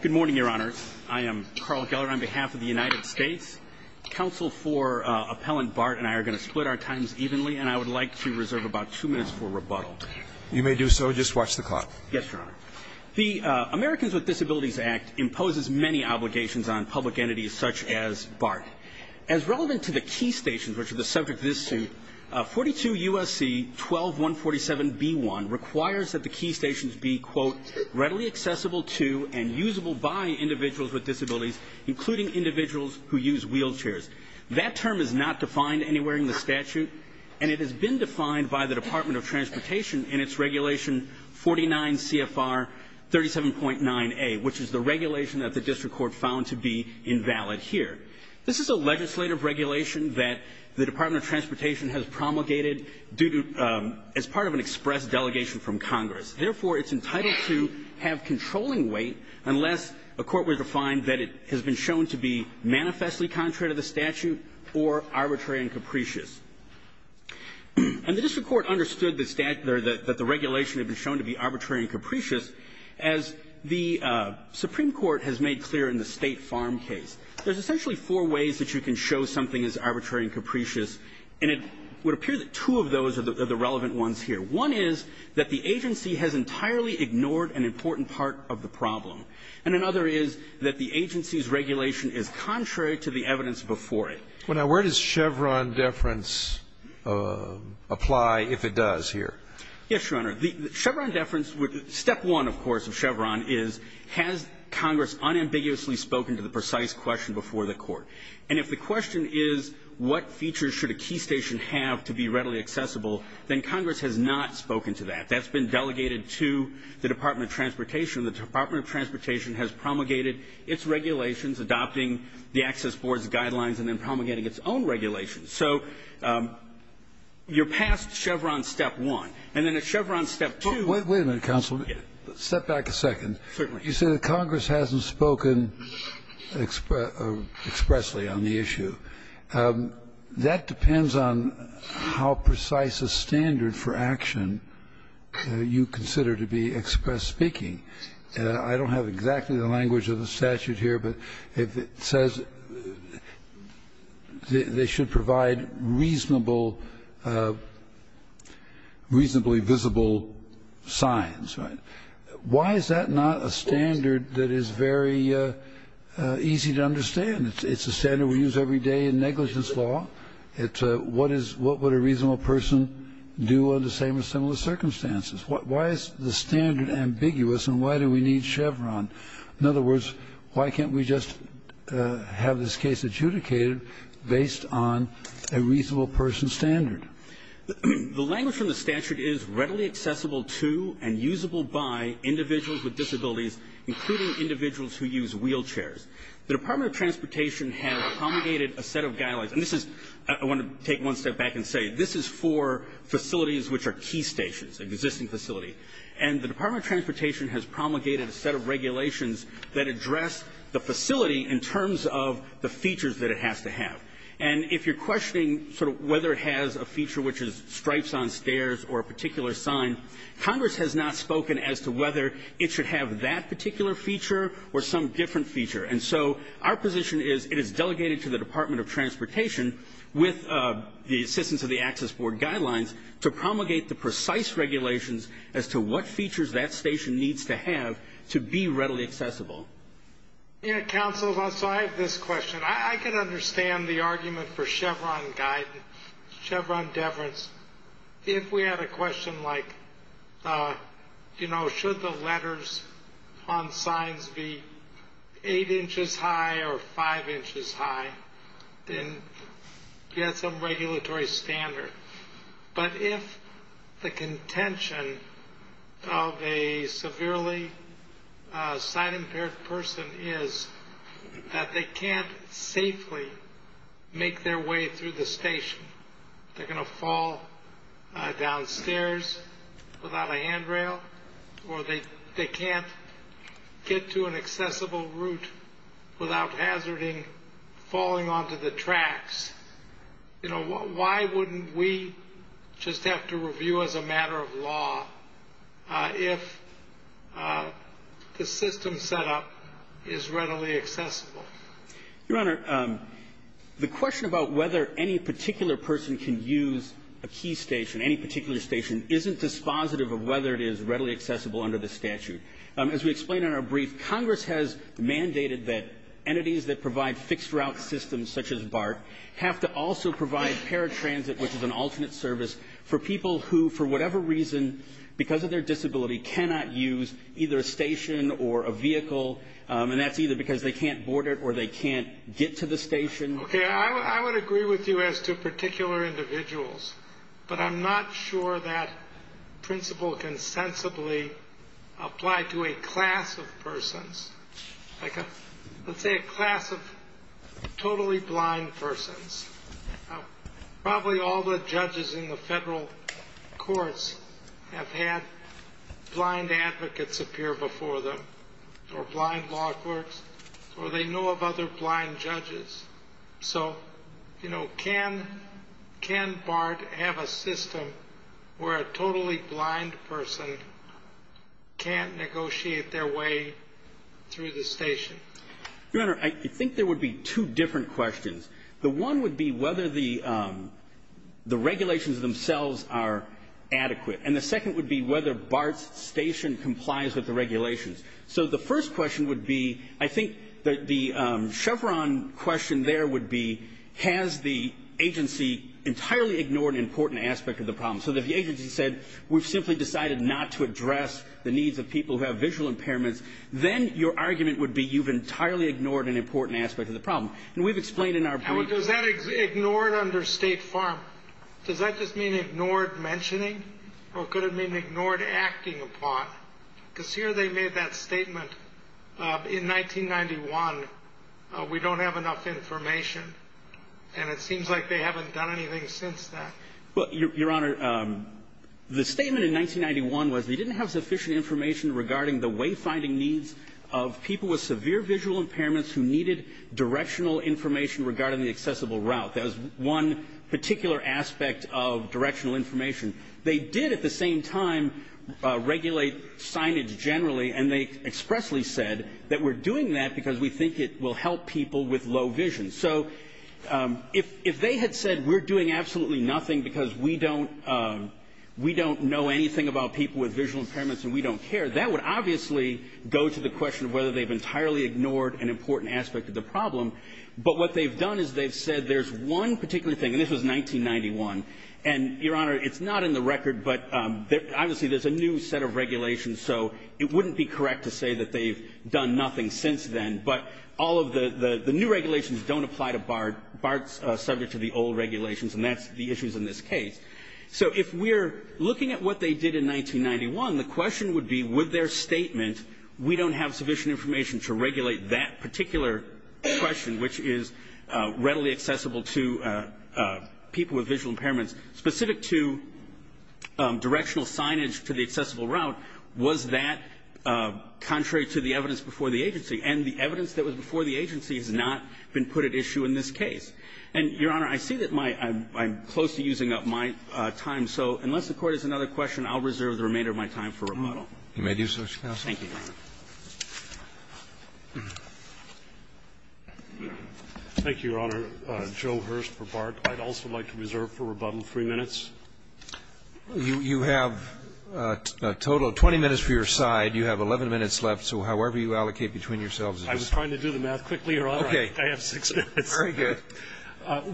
Good morning, Your Honor. I am Carl Geller on behalf of the United States. Counsel for Appellant BART and I are going to split our times evenly, and I would like to reserve about two minutes for rebuttal. You may do so. Just watch the clock. Yes, Your Honor. The Americans with Disabilities Act imposes many obligations on public entities such as BART. As relevant to the key stations, which are the subject of this suit, 42 U.S.C. 12147b1 requires that the key stations be, quote, readily accessible to and usable by individuals with disabilities, including individuals who use wheelchairs. That term is not defined anywhere in the statute, and it has been defined by the Department of Transportation in its Regulation 49 CFR 37.9a, which is the regulation that the district court found to be invalid here. This is a legislative regulation that the Department of Transportation has promulgated due to as part of an express delegation from Congress. Therefore, it's entitled to have controlling weight unless a court were to find that it has been shown to be manifestly contrary to the statute or arbitrary and capricious. And the district court understood that the regulation had been shown to be arbitrary and capricious as the Supreme Court has made clear in the State Farm case. There's essentially four ways that you can show something is arbitrary and capricious, and it would appear that two of those are the relevant ones here. One is that the agency has entirely ignored an important part of the problem. And another is that the agency's regulation is contrary to the evidence before it. Now, where does Chevron deference apply if it does here? Yes, Your Honor. Chevron deference, step one, of course, of Chevron is has Congress unambiguously spoken to the precise question before the court. And if the question is what features should a key station have to be readily accessible, then Congress has not spoken to that. That's been delegated to the Department of Transportation. The Department of Transportation has promulgated its regulations, adopting the Access Board's guidelines, and then promulgating its own regulations. So you're past Chevron, step one. And then at Chevron, step two. Wait a minute, counsel. Step back a second. Certainly. You say that Congress hasn't spoken expressly on the issue. That depends on how precise a standard for action you consider to be express speaking. I don't have exactly the language of the statute here, but it says they should provide reasonable, reasonably visible signs, right? Why is that not a standard that is very easy to understand? It's a standard we use every day in negligence law. It's what is what would a reasonable person do under the same or similar circumstances? Why is the standard ambiguous and why do we need Chevron? In other words, why can't we just have this case adjudicated based on a reasonable person standard? The language from the statute is readily accessible to and usable by individuals with disabilities, including individuals who use wheelchairs. The Department of Transportation has promulgated a set of guidelines. And this is – I want to take one step back and say this is for facilities which are key stations, existing facilities. And the Department of Transportation has promulgated a set of regulations that address the facility in terms of the features that it has to have. And if you're questioning sort of whether it has a feature which is stripes on stairs or a particular sign, Congress has not spoken as to whether it should have that particular feature or some different feature. And so our position is it is delegated to the Department of Transportation with the assistance of the Access Board guidelines to promulgate the precise regulations as to what features that station needs to have to be readily accessible. Counsel, so I have this question. I can understand the argument for Chevron guidance, Chevron deference. If we had a question like, you know, should the letters on signs be eight inches high or five inches high, then you have some regulatory standard. But if the contention of a severely sign-impaired person is that they can't safely make their way through the station, they're going to fall downstairs without a handrail or they can't get to an accessible route without hazarding falling onto the tracks, you know, why wouldn't we just have to review as a matter of law if the system setup is readily accessible? Your Honor, the question about whether any particular person can use a key station, any particular station, isn't dispositive of whether it is readily accessible under the statute. As we explained in our brief, Congress has mandated that entities that provide fixed route systems such as BART have to also provide paratransit, which is an alternate service, for people who, for whatever reason, because of their disability, cannot use either a station or a vehicle, and that's either because they can't board it or they can't get to the station. Okay, I would agree with you as to particular individuals, but I'm not sure that principle can sensibly apply to a class of persons, let's say a class of totally blind persons. Probably all the judges in the federal courts have had blind advocates appear before them or blind law clerks, or they know of other blind judges. So, you know, can BART have a system where a totally blind person can't negotiate their way through the station? Your Honor, I think there would be two different questions. The one would be whether the regulations themselves are adequate. And the second would be whether BART's station complies with the regulations. So the first question would be, I think the chevron question there would be, has the agency entirely ignored an important aspect of the problem? So if the agency said, we've simply decided not to address the needs of people who have visual impairments, then your argument would be you've entirely ignored an important aspect of the problem. And we've explained in our brief... Does that mean ignored under State Farm? Does that just mean ignored mentioning? Or could it mean ignored acting upon? Because here they made that statement, in 1991, we don't have enough information. And it seems like they haven't done anything since then. Well, Your Honor, the statement in 1991 was they didn't have sufficient information regarding the wayfinding needs of people with severe visual impairments who needed directional information regarding the accessible route. That was one particular aspect of directional information. They did at the same time regulate signage generally. And they expressly said that we're doing that because we think it will help people with low vision. So if they had said we're doing absolutely nothing because we don't know anything about people with visual impairments and we don't care, that would obviously go to the question of whether they've entirely ignored an important aspect of the problem. But what they've done is they've said there's one particular thing. And this was 1991. And, Your Honor, it's not in the record, but obviously there's a new set of regulations, so it wouldn't be correct to say that they've done nothing since then. But all of the new regulations don't apply to BART. BART's subject to the old regulations, and that's the issues in this case. So if we're looking at what they did in 1991, the question would be, with their statement, we don't have sufficient information to regulate that particular question, which is readily accessible to people with visual impairments. Specific to directional signage to the accessible route, was that contrary to the evidence before the agency? And the evidence that was before the agency has not been put at issue in this case. And, Your Honor, I see that my – I'm close to using up my time. So unless the Court has another question, I'll reserve the remainder of my time for rebuttal. You may do so, Mr. Counsel. Thank you. Thank you, Your Honor. Joe Hurst for BART. I'd also like to reserve for rebuttal three minutes. You have a total of 20 minutes for your side. You have 11 minutes left. So however you allocate between yourselves is fine. I was trying to do the math quickly, Your Honor. Okay. I have six minutes. Very good.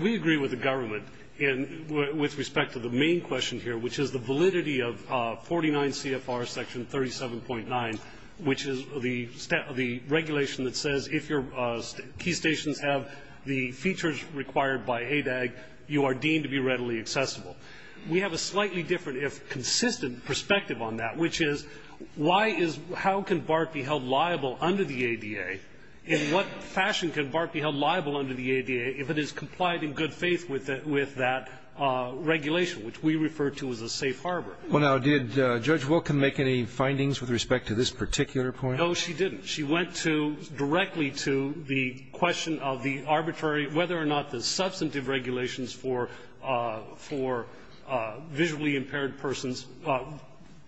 We agree with the government in – with respect to the main question here, which is the validity of 49 CFR section 37.9, which is the – the regulation that says if your key stations have the features required by ADAG, you are deemed to be readily accessible. We have a slightly different, if consistent, perspective on that, which is why is – how can BART be held liable under the ADA? In what fashion can BART be held liable under the ADA if it is complied in good regulation, which we refer to as a safe harbor? Well, now, did Judge Wilken make any findings with respect to this particular point? No, she didn't. She went to – directly to the question of the arbitrary – whether or not the substantive regulations for – for visually impaired persons,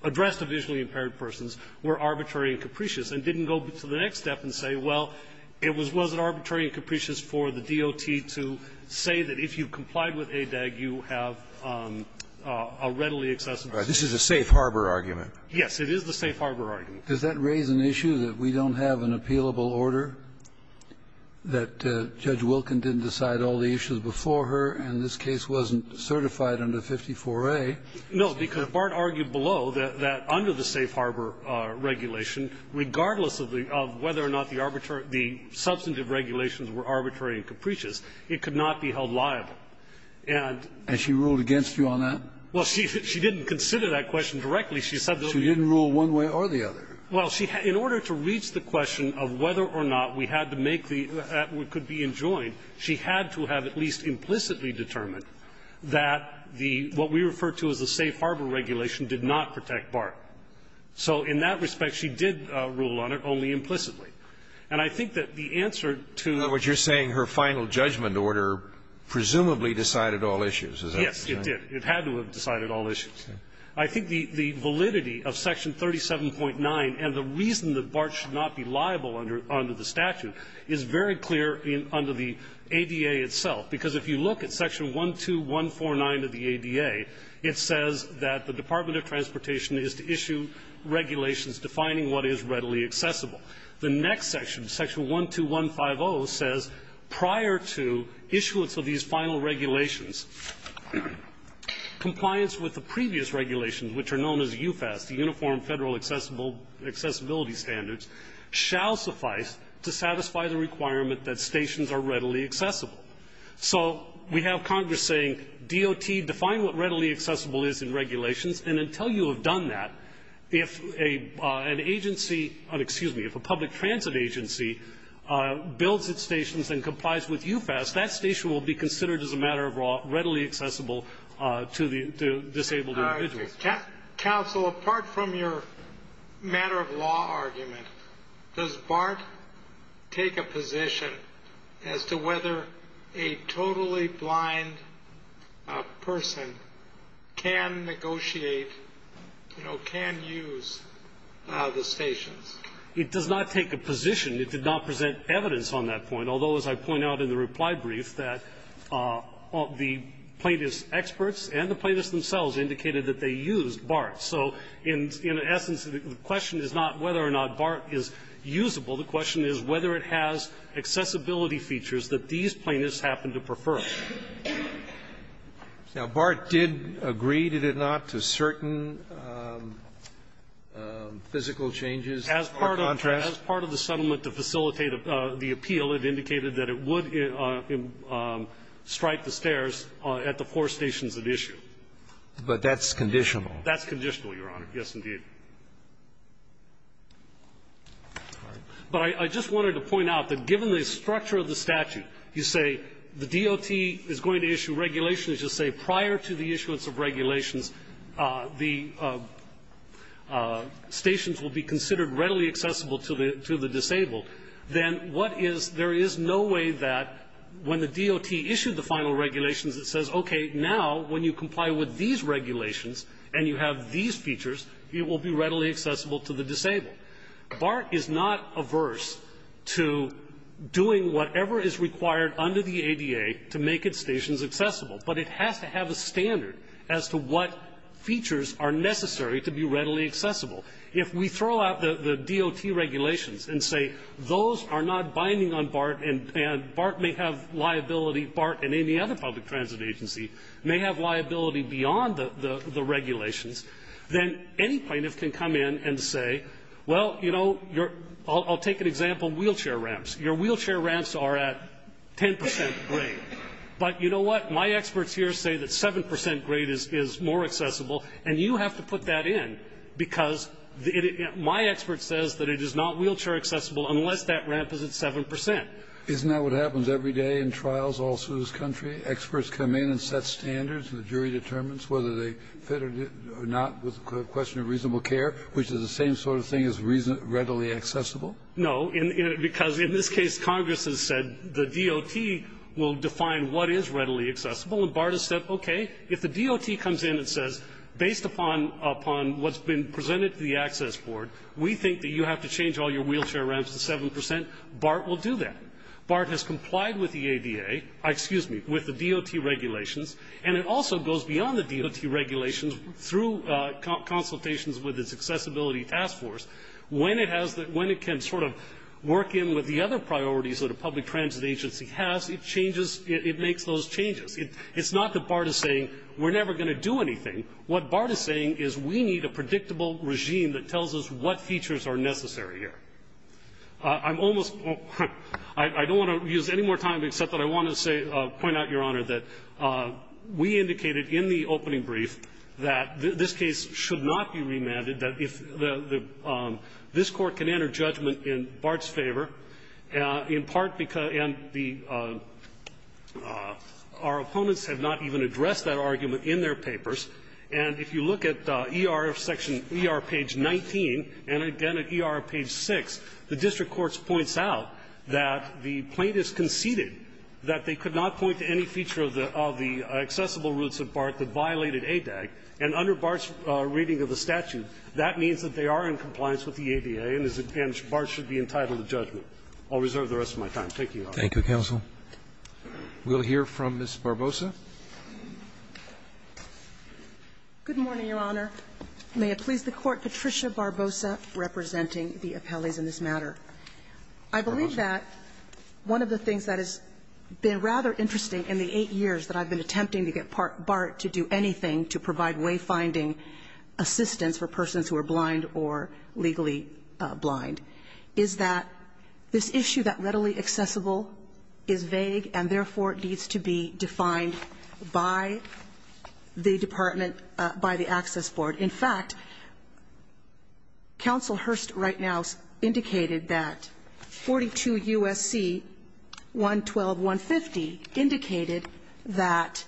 addressed to visually impaired persons, were arbitrary and capricious, and didn't go to the next step and say, well, it was – was it arbitrary and capricious for the DOT to say that if you complied with ADAG, you have a readily accessible station? This is a safe harbor argument. Yes. It is the safe harbor argument. Does that raise an issue that we don't have an appealable order, that Judge Wilken didn't decide all the issues before her, and this case wasn't certified under 54A? No, because BART argued below that under the safe harbor regulation, regardless of the – of whether or not the arbitrary – the substantive regulations were arbitrary and capricious, it could not be held liable. And – And she ruled against you on that? Well, she – she didn't consider that question directly. She said that we – She didn't rule one way or the other. Well, she – in order to reach the question of whether or not we had to make the – that we could be enjoined, she had to have at least implicitly determined that the – what we refer to as the safe harbor regulation did not protect BART. So in that respect, she did rule on it, only implicitly. And I think that the answer to – In other words, you're saying her final judgment order presumably decided all issues, is that what you're saying? Yes, it did. It had to have decided all issues. I think the validity of Section 37.9 and the reason that BART should not be liable under the statute is very clear under the ADA itself. Because if you look at Section 12149 of the ADA, it says that the Department of Transportation is to issue regulations defining what is readily accessible. The next section, Section 12150, says prior to issuance of these final regulations, compliance with the previous regulations, which are known as UFAS, the Uniform Federal Accessibility Standards, shall suffice to satisfy the requirement that stations are readily accessible. So we have Congress saying, DOT, define what readily accessible is in regulations, and until you have done that, if an agency – excuse me, if a public transit agency builds its stations and complies with UFAS, that station will be considered as a matter of law, readily accessible to disabled individuals. Counsel, apart from your matter of law argument, does BART take a position as to whether a totally blind person can negotiate, you know, can use the stations? It does not take a position. It did not present evidence on that point, although, as I point out in the reply brief, that the plaintiffs' experts and the plaintiffs themselves indicated that they used BART. So in essence, the question is not whether or not BART is usable. The question is whether it has accessibility features that these plaintiffs happen to prefer. Now, BART did agree, did it not, to certain physical changes or contrasts? As part of the settlement to facilitate the appeal, it indicated that it would strike the stairs at the four stations at issue. But that's conditional. That's conditional, Your Honor. Yes, indeed. But I just wanted to point out that given the structure of the statute, you say the DOT is going to issue regulations, you just say prior to the issuance of regulations, the stations will be considered readily accessible to the disabled, then what is there is no way that when the DOT issued the final regulations, it says, okay, now, when you comply with these regulations and you have these features, it will be readily accessible to the disabled. BART is not averse to doing whatever is required under the ADA to make its stations accessible, but it has to have a standard as to what features are necessary to be readily accessible. If we throw out the DOT regulations and say those are not binding on BART and BART may have liability BART and any other public transit agency may have liability beyond the regulations, then any plaintiff can come in and say, well, you know, I'll take an example of wheelchair ramps. Your wheelchair ramps are at 10 percent grade. But you know what? My experts here say that 7 percent grade is more accessible, and you have to put that in because my expert says that it is not wheelchair accessible unless that ramp is at 7 percent. Isn't that what happens every day in trials all through this country? Experts come in and set standards, and the jury determines whether they fit or not with the question of reasonable care, which is the same sort of thing as readily accessible? No. Because in this case, Congress has said the DOT will define what is readily accessible, and BART has said, okay, if the DOT comes in and says, based upon what's been presented to the access board, we think that you have to change all your wheelchair ramps to 7 percent, BART will do that. BART has complied with the ADA, excuse me, with the DOT regulations, and it also goes beyond the DOT regulations through consultations with its accessibility task force. When it has the, when it can sort of work in with the other priorities that a public transit agency has, it changes, it makes those changes. It's not that BART is saying we're never going to do anything. What BART is saying is we need a predictable regime that tells us what features are necessary here. I'm almost, I don't want to use any more time except that I want to say, point out, Your Honor, that we indicated in the opening brief that this case should not be remanded, that if the, this Court can enter judgment in BART's favor, in part because, and the, our opponents have not even addressed that argument in their papers. And if you look at ER section, ER page 19, and again at ER page 6, the district courts points out that the plaintiffs conceded that they could not point to any feature of the, of the accessible routes of BART that violated ADAG. And under BART's reading of the statute, that means that they are in compliance with the ADA, and as an advantage, BART should be entitled to judgment. I'll reserve the rest of my time. Thank you, Your Honor. Thank you, counsel. We'll hear from Ms. Barbosa. Good morning, Your Honor. May it please the Court, Patricia Barbosa representing the appellees in this matter. Barbosa. I believe that one of the things that has been rather interesting in the 8 years that I've been attempting to get BART to do anything to provide wayfinding assistance for persons who are blind or legally blind is that this issue that readily accessible is vague and therefore needs to be defined by the department, by the access board. In fact, counsel Hurst right now indicated that 42 U.S.C. 112.150 indicated that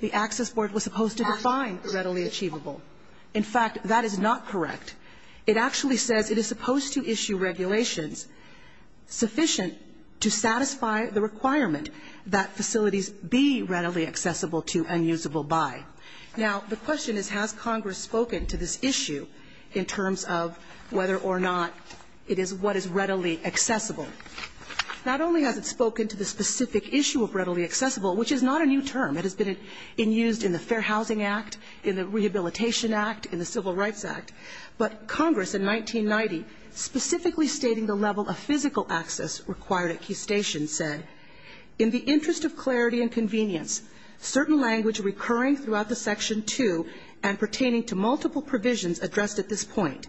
the access board was supposed to define readily achievable. In fact, that is not correct. It actually says it is supposed to issue regulations sufficient to satisfy the requirement that facilities be readily accessible to and usable by. Now, the question is, has Congress spoken to this issue in terms of whether or not it is what is readily accessible? Not only has it spoken to the specific issue of readily accessible, which is not a new term. It has been in used in the Fair Housing Act, in the Rehabilitation Act, in the Civil Rights Act, but Congress in 1990 specifically stating the level of physical access required at key stations said, in the interest of clarity and convenience, certain language recurring throughout the section 2 and pertaining to multiple provisions addressed at this point.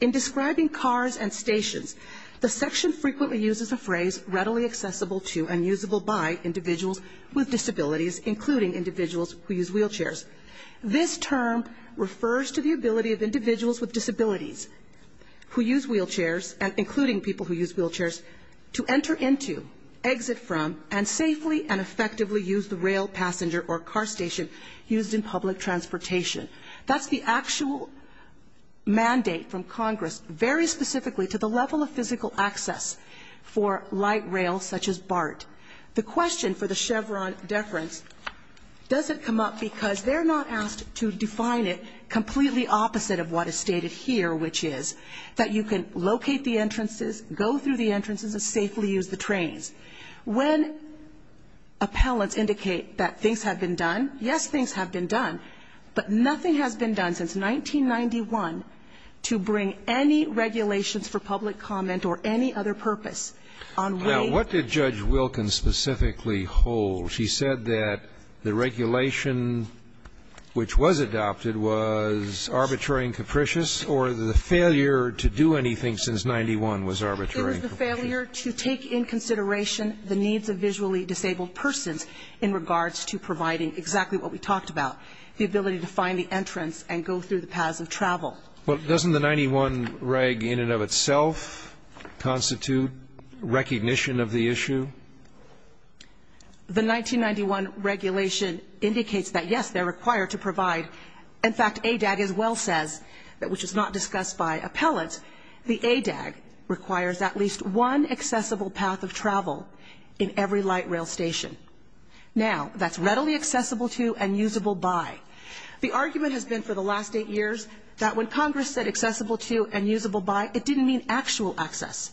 In describing cars and stations, the section frequently uses a phrase, readily accessible to and usable by individuals with disabilities, including individuals who use wheelchairs. This term refers to the ability of individuals with disabilities who use wheelchairs, including people who use wheelchairs, to enter into, exit from, and safely and effectively use the rail passenger or car station used in public transportation. That's the actual mandate from Congress, very specifically to the level of physical access for light rail such as BART. The question for the Chevron deference doesn't come up because they're not asked to define it completely opposite of what is stated here, which is that you can locate the entrances, go through the entrances, and safely use the trains. When appellants indicate that things have been done, yes, things have been done, but nothing has been done since 1991 to bring any regulations for public comment or any other purpose on way. Now, what did Judge Wilkins specifically hold? She said that the regulation which was adopted was arbitrary and capricious, or the failure to do anything since 91 was arbitrary? It was the failure to take in consideration the needs of visually disabled persons in regards to providing exactly what we talked about, the ability to find the entrance and go through the paths of travel. Well, doesn't the 91 reg in and of itself constitute recognition of the issue? The 1991 regulation indicates that, yes, they're required to provide. In fact, ADAG as well says, which is not discussed by appellants, the ADAG requires at least one accessible path of travel in every light rail station. Now, that's readily accessible to and usable by. The argument has been for the last eight years that when Congress said accessible to and usable by, it didn't mean actual access.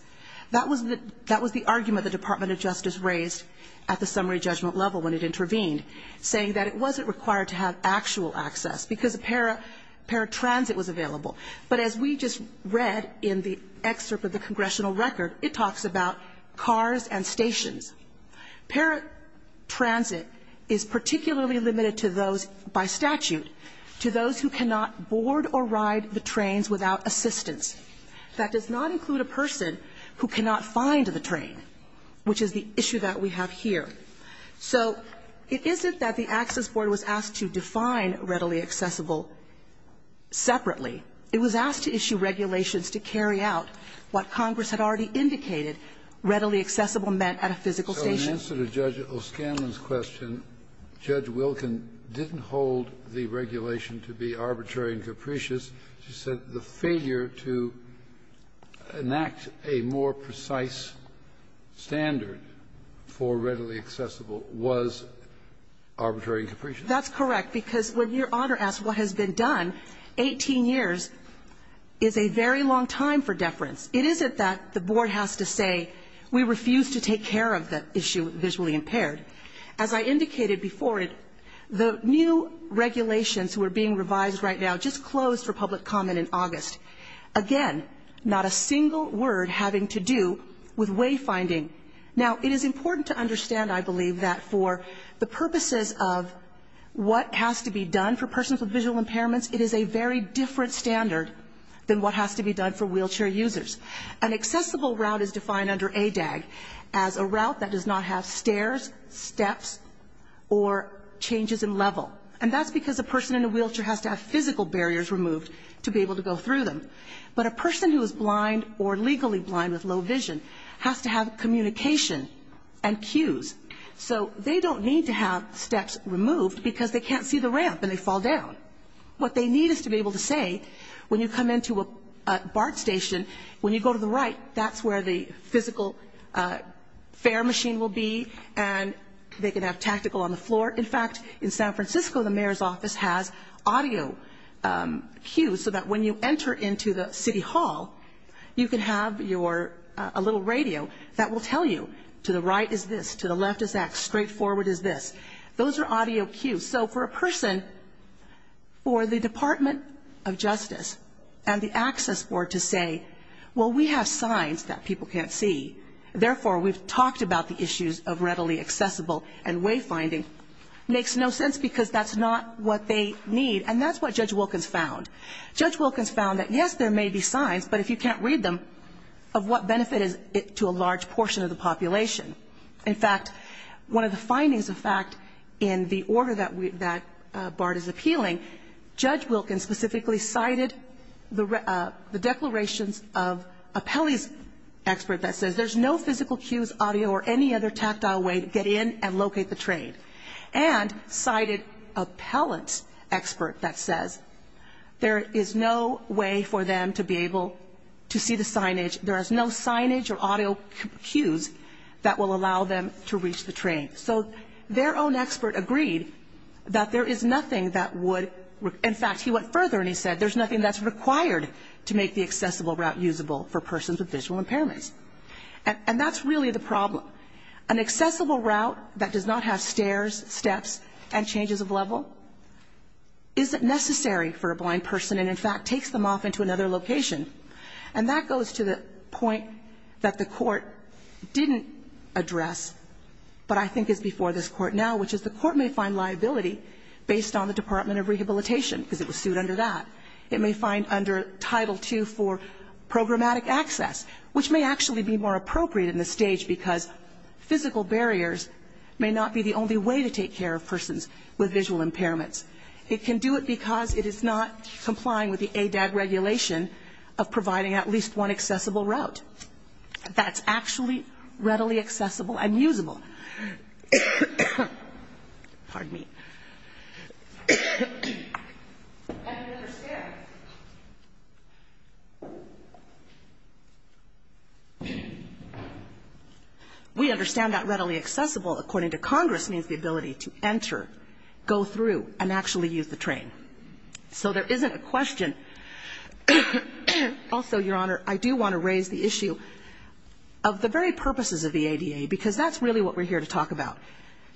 That was the argument the Department of Justice raised at the summary judgment level when it intervened, saying that it wasn't required to have actual access because paratransit was available. But as we just read in the excerpt of the congressional record, it talks about cars and stations. Paratransit is particularly limited to those, by statute, to those who cannot board or ride the trains without assistance. That does not include a person who cannot find the train, which is the issue that we have here. So it isn't that the Access Board was asked to define readily accessible separately. It was asked to issue regulations to carry out what Congress had already indicated, readily accessible meant at a physical station. So in answer to Judge O'Scanlan's question, Judge Wilkin didn't hold the regulation to be arbitrary and capricious. She said the failure to enact a more precise standard for readily accessible was arbitrary and capricious. That's correct, because when Your Honor asks what has been done, 18 years is a very long time for deference. It isn't that the Board has to say we refuse to take care of the issue of visually impaired. As I indicated before, the new regulations who are being revised right now just closed for public comment in August. Again, not a single word having to do with wayfinding. Now, it is important to understand, I believe, that for the purposes of what has to be done for persons with visual impairments, it is a very different standard than what has to be done for wheelchair users. An accessible route is defined under ADAG as a route that does not have stairs, steps, or changes in level. And that's because a person in a wheelchair has to have physical barriers removed to be able to go through them. But a person who is blind or legally blind with low vision has to have communication and cues. So they don't need to have steps removed because they can't see the ramp and they fall down. What they need is to be able to say, when you come into a BART station, when you go to the right, that's where the physical fare machine will be and they can have tactical on the floor. In fact, in San Francisco, the mayor's office has audio cues so that when you enter into the city hall, you can have a little radio that will tell you, to the right is this, to the left is that, straight forward is this. Those are audio cues. So for a person, for the Department of Justice and the Access Board to say, well, we have signs that people can't see, therefore, we've talked about the issues of readily accessible and wayfinding, makes no sense because that's not what they need. And that's what Judge Wilkins found. Judge Wilkins found that, yes, there may be signs, but if you can't read them, of what benefit is it to a large portion of the population. In fact, one of the findings, in fact, in the order that BART is appealing, Judge Wilkins specifically cited the declarations of a Pelley's expert that says there's no physical cues, audio, or any other tactile way to get in and locate the trade. And cited a Pellet's expert that says there is no way for them to be able to see the signage, there is no signage or audio cues that will allow them to reach the train. So their own expert agreed that there is nothing that would, in fact, he went further and he said, there's nothing that's required to make the accessible route usable for persons with visual impairments. And that's really the problem. An accessible route that does not have stairs, steps, and changes of level isn't necessary for a blind person and, in fact, takes them off into another location. And that goes to the point that the Court didn't address but I think is before this Court now, which is the Court may find liability based on the Department of Rehabilitation, because it was sued under that. It may find under Title II for programmatic access, which may actually be more appropriate in this stage because physical barriers may not be the only way to take care of persons with visual impairments. It can do it because it is not complying with the ADAG regulation of providing at least one accessible route. That's actually readily accessible and usable. Pardon me. We understand that readily accessible, according to Congress, means the ability to enter, go through, and actually use the train. So there isn't a question. Also, Your Honor, I do want to raise the issue of the very purposes of the ADA, because that's really what we're here to talk about,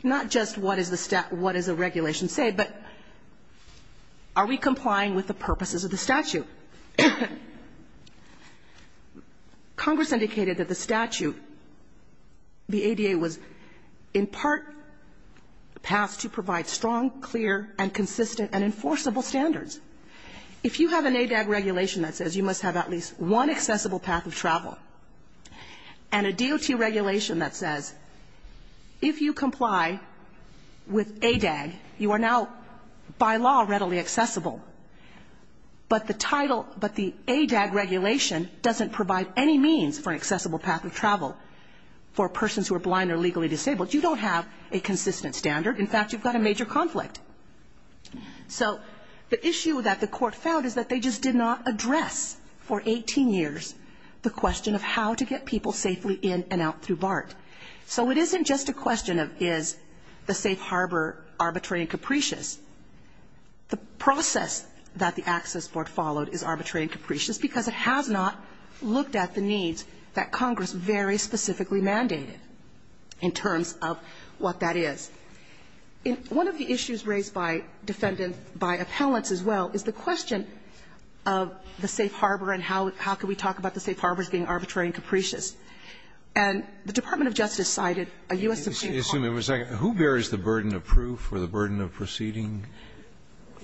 not just what does the regulation say, but are we complying with the purposes of the statute? Congress indicated that the statute, the ADA, was in part passed to provide strong, clear, and consistent and enforceable standards. If you have an ADAG regulation that says you must have at least one accessible path of travel, and a DOT regulation that says if you comply with ADAG, you are now by law readily accessible, but the title, but the ADAG regulation doesn't provide any means for an accessible path of travel for persons who are blind or legally disabled. You don't have a consistent standard. In fact, you've got a major conflict. So the issue that the Court found is that they just did not address for 18 years the question of how to get people safely in and out through BART. So it isn't just a question of is the safe harbor arbitrary and capricious. The process that the Access Board followed is arbitrary and capricious, because it has not looked at the needs that Congress very specifically mandated in terms of what that is. One of the issues raised by defendant, by appellants as well, is the question of the safe harbor and how can we talk about the safe harbors being arbitrary and capricious. And the Department of Justice cited a U.S. Supreme Court. Scalia, who bears the burden of proof or the burden of proceeding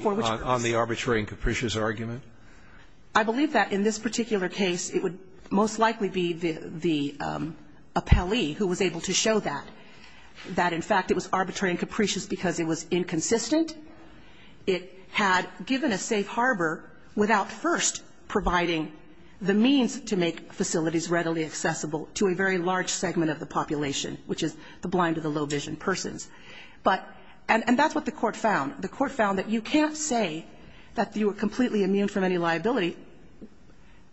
on the arbitrary and capricious argument? I believe that in this particular case, it would most likely be the appellee who was able to show that, that in fact it was arbitrary and capricious because it was inconsistent. It had given a safe harbor without first providing the means to make facilities readily accessible to a very large segment of the population, which is the blind or the low-vision persons. But that's what the Court found. The Court found that you can't say that you are completely immune from any liability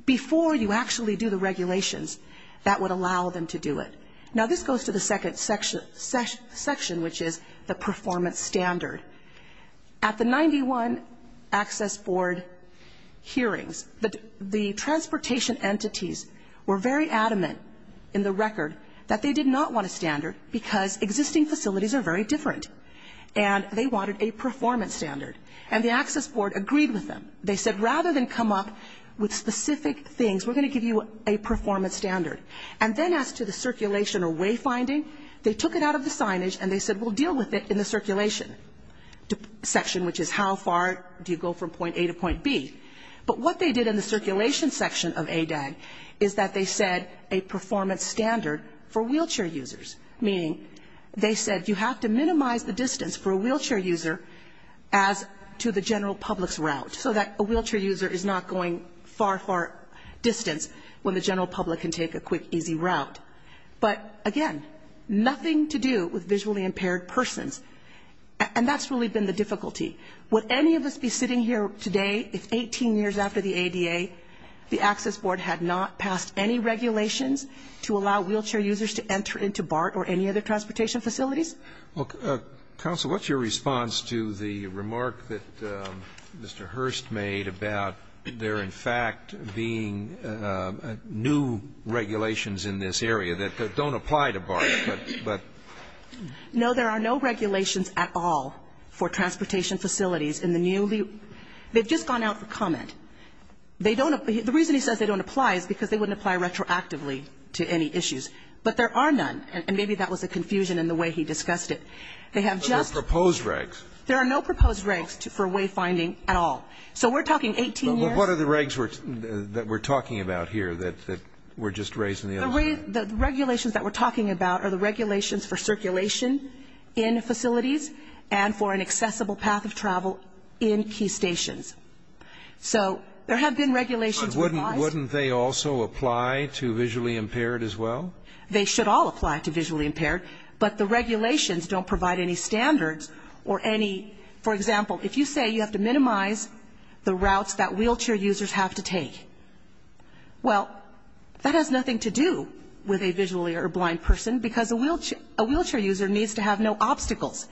before you actually do the regulations that would allow them to do it. Now, this goes to the second section, which is the performance standard. At the 91 Access Board hearings, the transportation entities were very adamant in the record that they did not want a standard because existing facilities are very different. And they wanted a performance standard. And the Access Board agreed with them. They said rather than come up with specific things, we're going to give you a performance standard. And then as to the circulation or wayfinding, they took it out of the signage and they said we'll deal with it in the circulation section, which is how far do you go from point A to point B. But what they did in the circulation section of ADAG is that they said a performance standard for wheelchair users. Meaning they said you have to minimize the distance for a wheelchair user as to the general public's route, so that a wheelchair user is not going far, far distance when the general public can take a quick, easy route. But, again, nothing to do with visually impaired persons. And that's really been the difficulty. Would any of us be sitting here today if 18 years after the ADA, the Access Board had not passed any regulations to allow wheelchair users to enter into BART or any other transportation facilities? Counsel, what's your response to the remark that Mr. Hurst made about there, in fact, being new regulations in this area that don't apply to BART, but? No, there are no regulations at all for transportation facilities in the newly they've just gone out for comment. The reason he says they don't apply is because they wouldn't apply retroactively to any issues. But there are none. And maybe that was a confusion in the way he discussed it. But there are proposed regs. There are no proposed regs for wayfinding at all. So we're talking 18 years. What are the regs that we're talking about here that we're just raising the other way? The regulations that we're talking about are the regulations for circulation in facilities and for an accessible path of travel in key stations. So there have been regulations. But wouldn't they also apply to visually impaired as well? They should all apply to visually impaired. But the regulations don't provide any standards or any, for example, if you say you have to minimize the routes that wheelchair users have to take, well, that has nothing to do with a visually or blind person, because a wheelchair user needs to have no obstacles,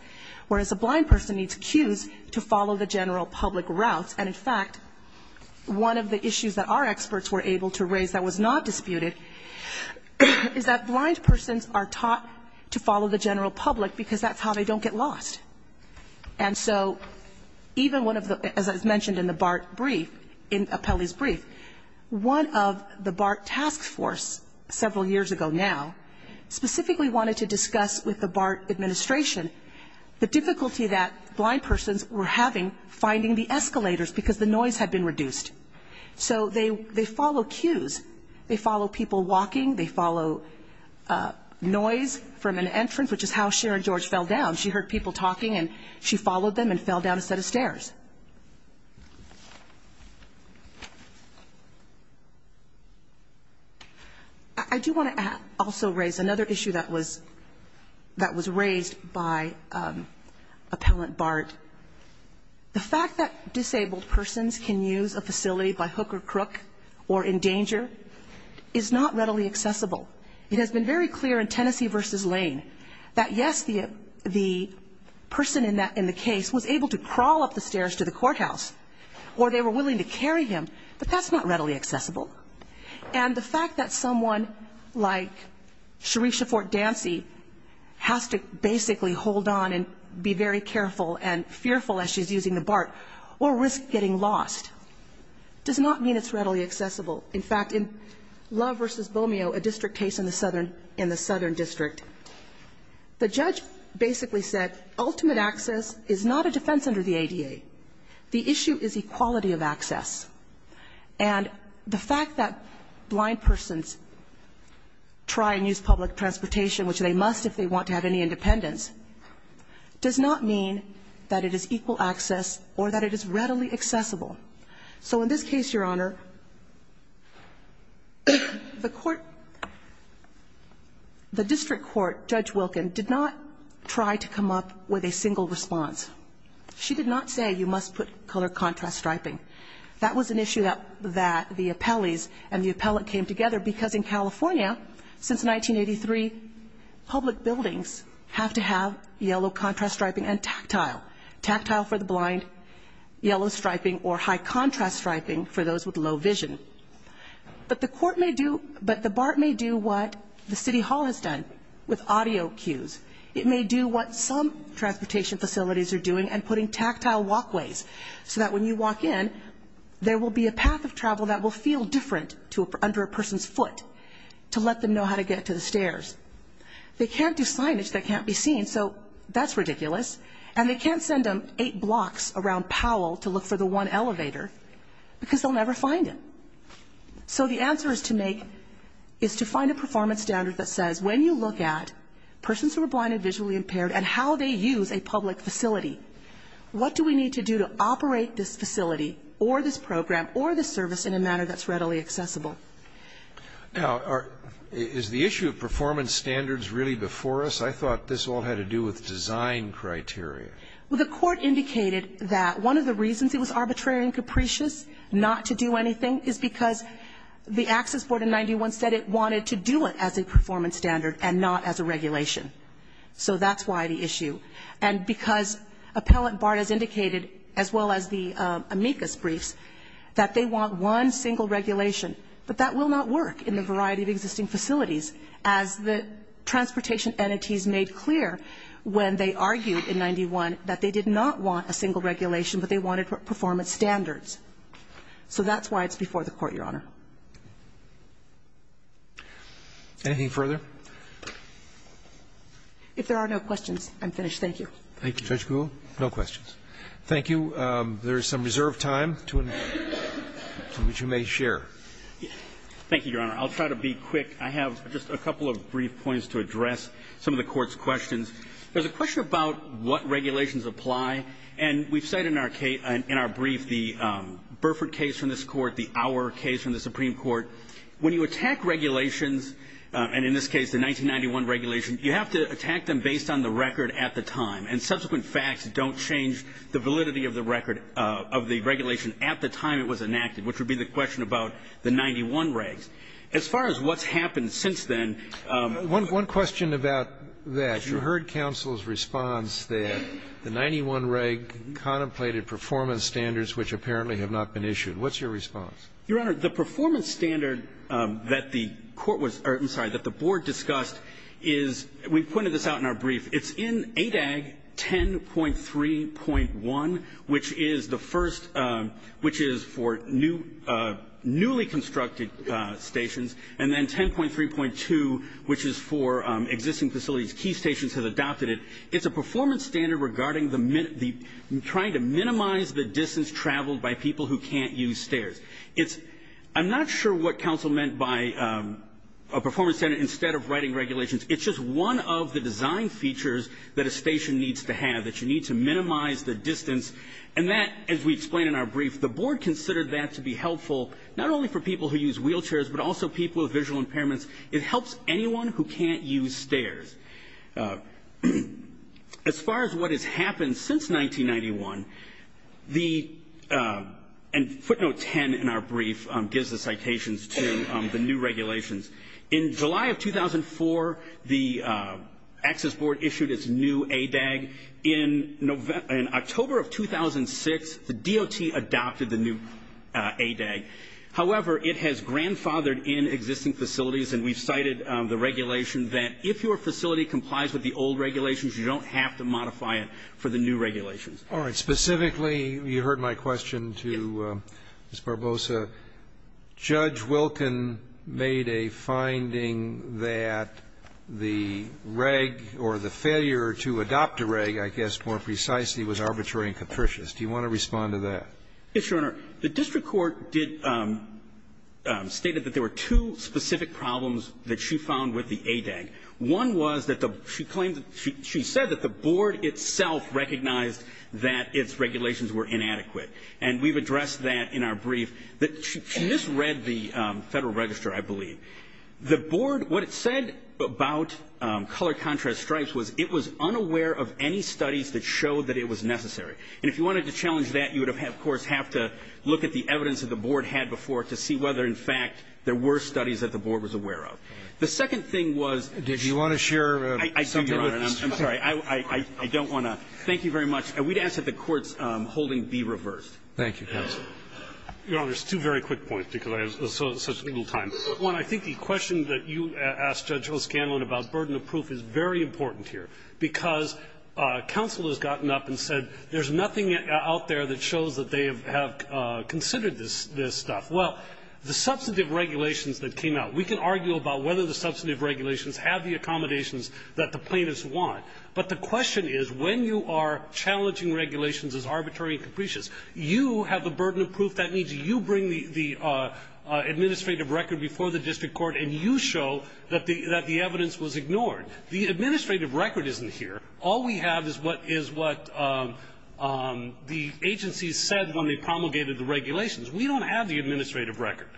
whereas a blind person needs cues to follow the general public routes. And, in fact, one of the issues that our experts were able to raise that was not disputed is that blind persons are taught to follow the general public, because that's how they don't get lost. And so even one of the, as I mentioned in the BART brief, in Apelli's brief, one of the BART task force, several years ago now, specifically wanted to discuss with the BART administration the difficulty that blind persons were having finding the escalators, because the noise had been reduced. So they follow cues. They follow people walking. They follow noise from an entrance, which is how Sharon George fell down. She heard people talking, and she followed them and fell down a set of stairs. I do want to also raise another issue that was raised by Appellant BART. The fact that disabled persons can use a facility by hook or crook or in danger is not readily accessible. It has been very clear in Tennessee v. Lane that, yes, the person in the case was able to crawl up the stairs to the courthouse, or they were willing to carry him, but that's not readily accessible. And the fact that someone like Cherisha Fort-Dancy has to basically hold on and be very careful and fearful as she's using the BART or risk getting lost does not mean it's readily accessible. In fact, in Love v. Bomio, a district case in the southern district, the judge basically said that ultimate access is not a defense under the ADA. The issue is equality of access. And the fact that blind persons try and use public transportation, which they must if they want to have any independence, does not mean that it is equal access or that it is readily accessible. So in this case, Your Honor, the court, the district court, Judge Wilkin, did not try to come up with a defense with a single response. She did not say you must put color contrast striping. That was an issue that the appellees and the appellate came together, because in California, since 1983, public buildings have to have yellow contrast striping and tactile, tactile for the blind, yellow striping or high contrast striping for those with low vision. But the court may do, but the BART may do what the city hall has done with audio cues. It may do what some transportation facilities are doing and putting tactile walkways, so that when you walk in, there will be a path of travel that will feel different under a person's foot, to let them know how to get to the stairs. They can't do signage that can't be seen, so that's ridiculous. And they can't send them eight blocks around Powell to look for the one elevator, because they'll never find it. So the answer is to make, is to find a performance standard that says when you look at persons who are blind and visually impaired and how they use a public facility, what do we need to do to operate this facility or this program or this service in a manner that's readily accessible? Now, is the issue of performance standards really before us? I thought this all had to do with design criteria. Well, the court indicated that one of the reasons it was arbitrary and capricious not to do anything is because the access board in 91 said it wanted to do it as a performance standard and not as a regulation, so that's why the issue. And because Appellant Bard has indicated, as well as the amicus briefs, that they want one single regulation, but that will not work in the variety of existing facilities, as the transportation entities made clear when they argued in 91 that they did not want a single regulation, but they wanted performance standards. So that's why it's before the Court, Your Honor. Roberts. Anything further? If there are no questions, I'm finished. Thank you. Thank you, Judge Gould. No questions. Thank you. There is some reserved time to, which you may share. Thank you, Your Honor. I'll try to be quick. I have just a couple of brief points to address some of the Court's questions. There's a question about what regulations apply, and we've said in our brief the Burford case from this Court, the Auer case from the Supreme Court. When you attack regulations, and in this case the 1991 regulation, you have to attack them based on the record at the time, and subsequent facts don't change the validity of the record of the regulation at the time it was enacted, which would be the question about the 91 regs. As far as what's happened since then ---- One question about that. You heard counsel's response that the 91 reg contemplated performance standards which apparently have not been issued. What's your response? Your Honor, the performance standard that the Court was ---- I'm sorry, that the Board discussed is we pointed this out in our brief. It's in ADAG 10.3.1, which is the first ---- which is for newly constructed stations, and then 10.3.2, which is for existing facilities. Key stations have adopted it. It's a performance standard regarding the ---- trying to minimize the distance traveled by people who can't use stairs. It's ---- I'm not sure what counsel meant by a performance standard instead of writing regulations. It's just one of the design features that a station needs to have, that you need to minimize the distance, and that, as we explained in our brief, the Board considered that to be helpful not only for people who use wheelchairs, but also people with visual impairments. It helps anyone who can't use stairs. As far as what has happened since 1991, the ---- and footnote 10 in our brief gives the citations to the new regulations. In July of 2004, the Access Board issued its new ADAG. In October of 2006, the DOT adopted the new ADAG. However, it has grandfathered in existing facilities, and we've cited the regulation that if your facility complies with the old regulations, you don't have to modify it for the new regulations. All right. Specifically, you heard my question to Ms. Barbosa. Judge Wilken made a finding that the reg, or the failure to adopt a reg, I guess more precisely, was arbitrary and capricious. Do you want to respond to that? Yes, Your Honor. The district court did ---- stated that there were two specific problems that she found with the ADAG. One was that the ---- she claimed that the Board itself recognized that its regulations were inadequate. And we've addressed that in our brief. She misread the Federal Register, I believe. The Board, what it said about color contrast stripes was it was unaware of any studies that showed that it was necessary. And if you wanted to challenge that, you would, of course, have to look at the evidence that the Board had before to see whether, in fact, there were studies that the Board was aware of. The second thing was ---- Did you want to share something with us? I'm sorry. I don't want to. Thank you very much. And we'd ask that the Court's holding be reversed. Thank you, counsel. Your Honor, there's two very quick points because I have such little time. One, I think the question that you asked Judge O'Scanlan about burden of proof is very important here because counsel has gotten up and said there's nothing out there that shows that they have considered this stuff. Well, the substantive regulations that came out, we can argue about whether the substantive regulations have the accommodations that the plaintiffs want, but the question is when you are challenging regulations as arbitrary and capricious, you have a burden of proof. That means you bring the administrative record before the district court and you show that the evidence was ignored. The administrative record isn't here. All we have is what is what the agencies said when they promulgated the regulations. We don't have the administrative record.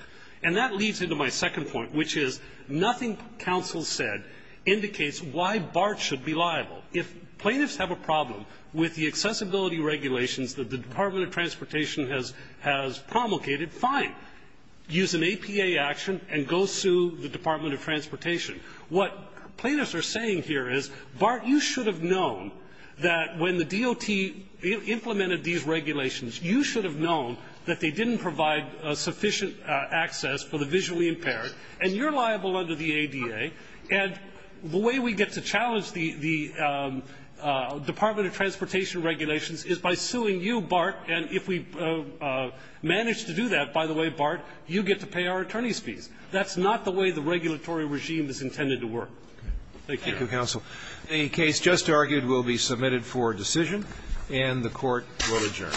And that leads into my second point, which is nothing counsel said indicates why BART should be liable. If plaintiffs have a problem with the accessibility regulations that the Department of Transportation has promulgated, fine. Use an APA action and go sue the Department of Transportation. What plaintiffs are saying here is, BART, you should have known that when the DOT implemented these regulations, you should have known that they didn't provide sufficient access for the visually impaired, and you're liable under the ADA. And the way we get to challenge the Department of Transportation regulations is by suing you, BART, and if we manage to do that, by the way, BART, you get to pay our attorneys' fees. That's not the way the regulatory regime is intended to work. Thank you. Roberts. Thank you, counsel. Any case just argued will be submitted for decision, and the Court will adjourn. Thank you. Hearing, all persons have been present. The Honorable United States Court of Appeals to the Ninth Circuit will now depart for discourt, and this session now begins adjournment.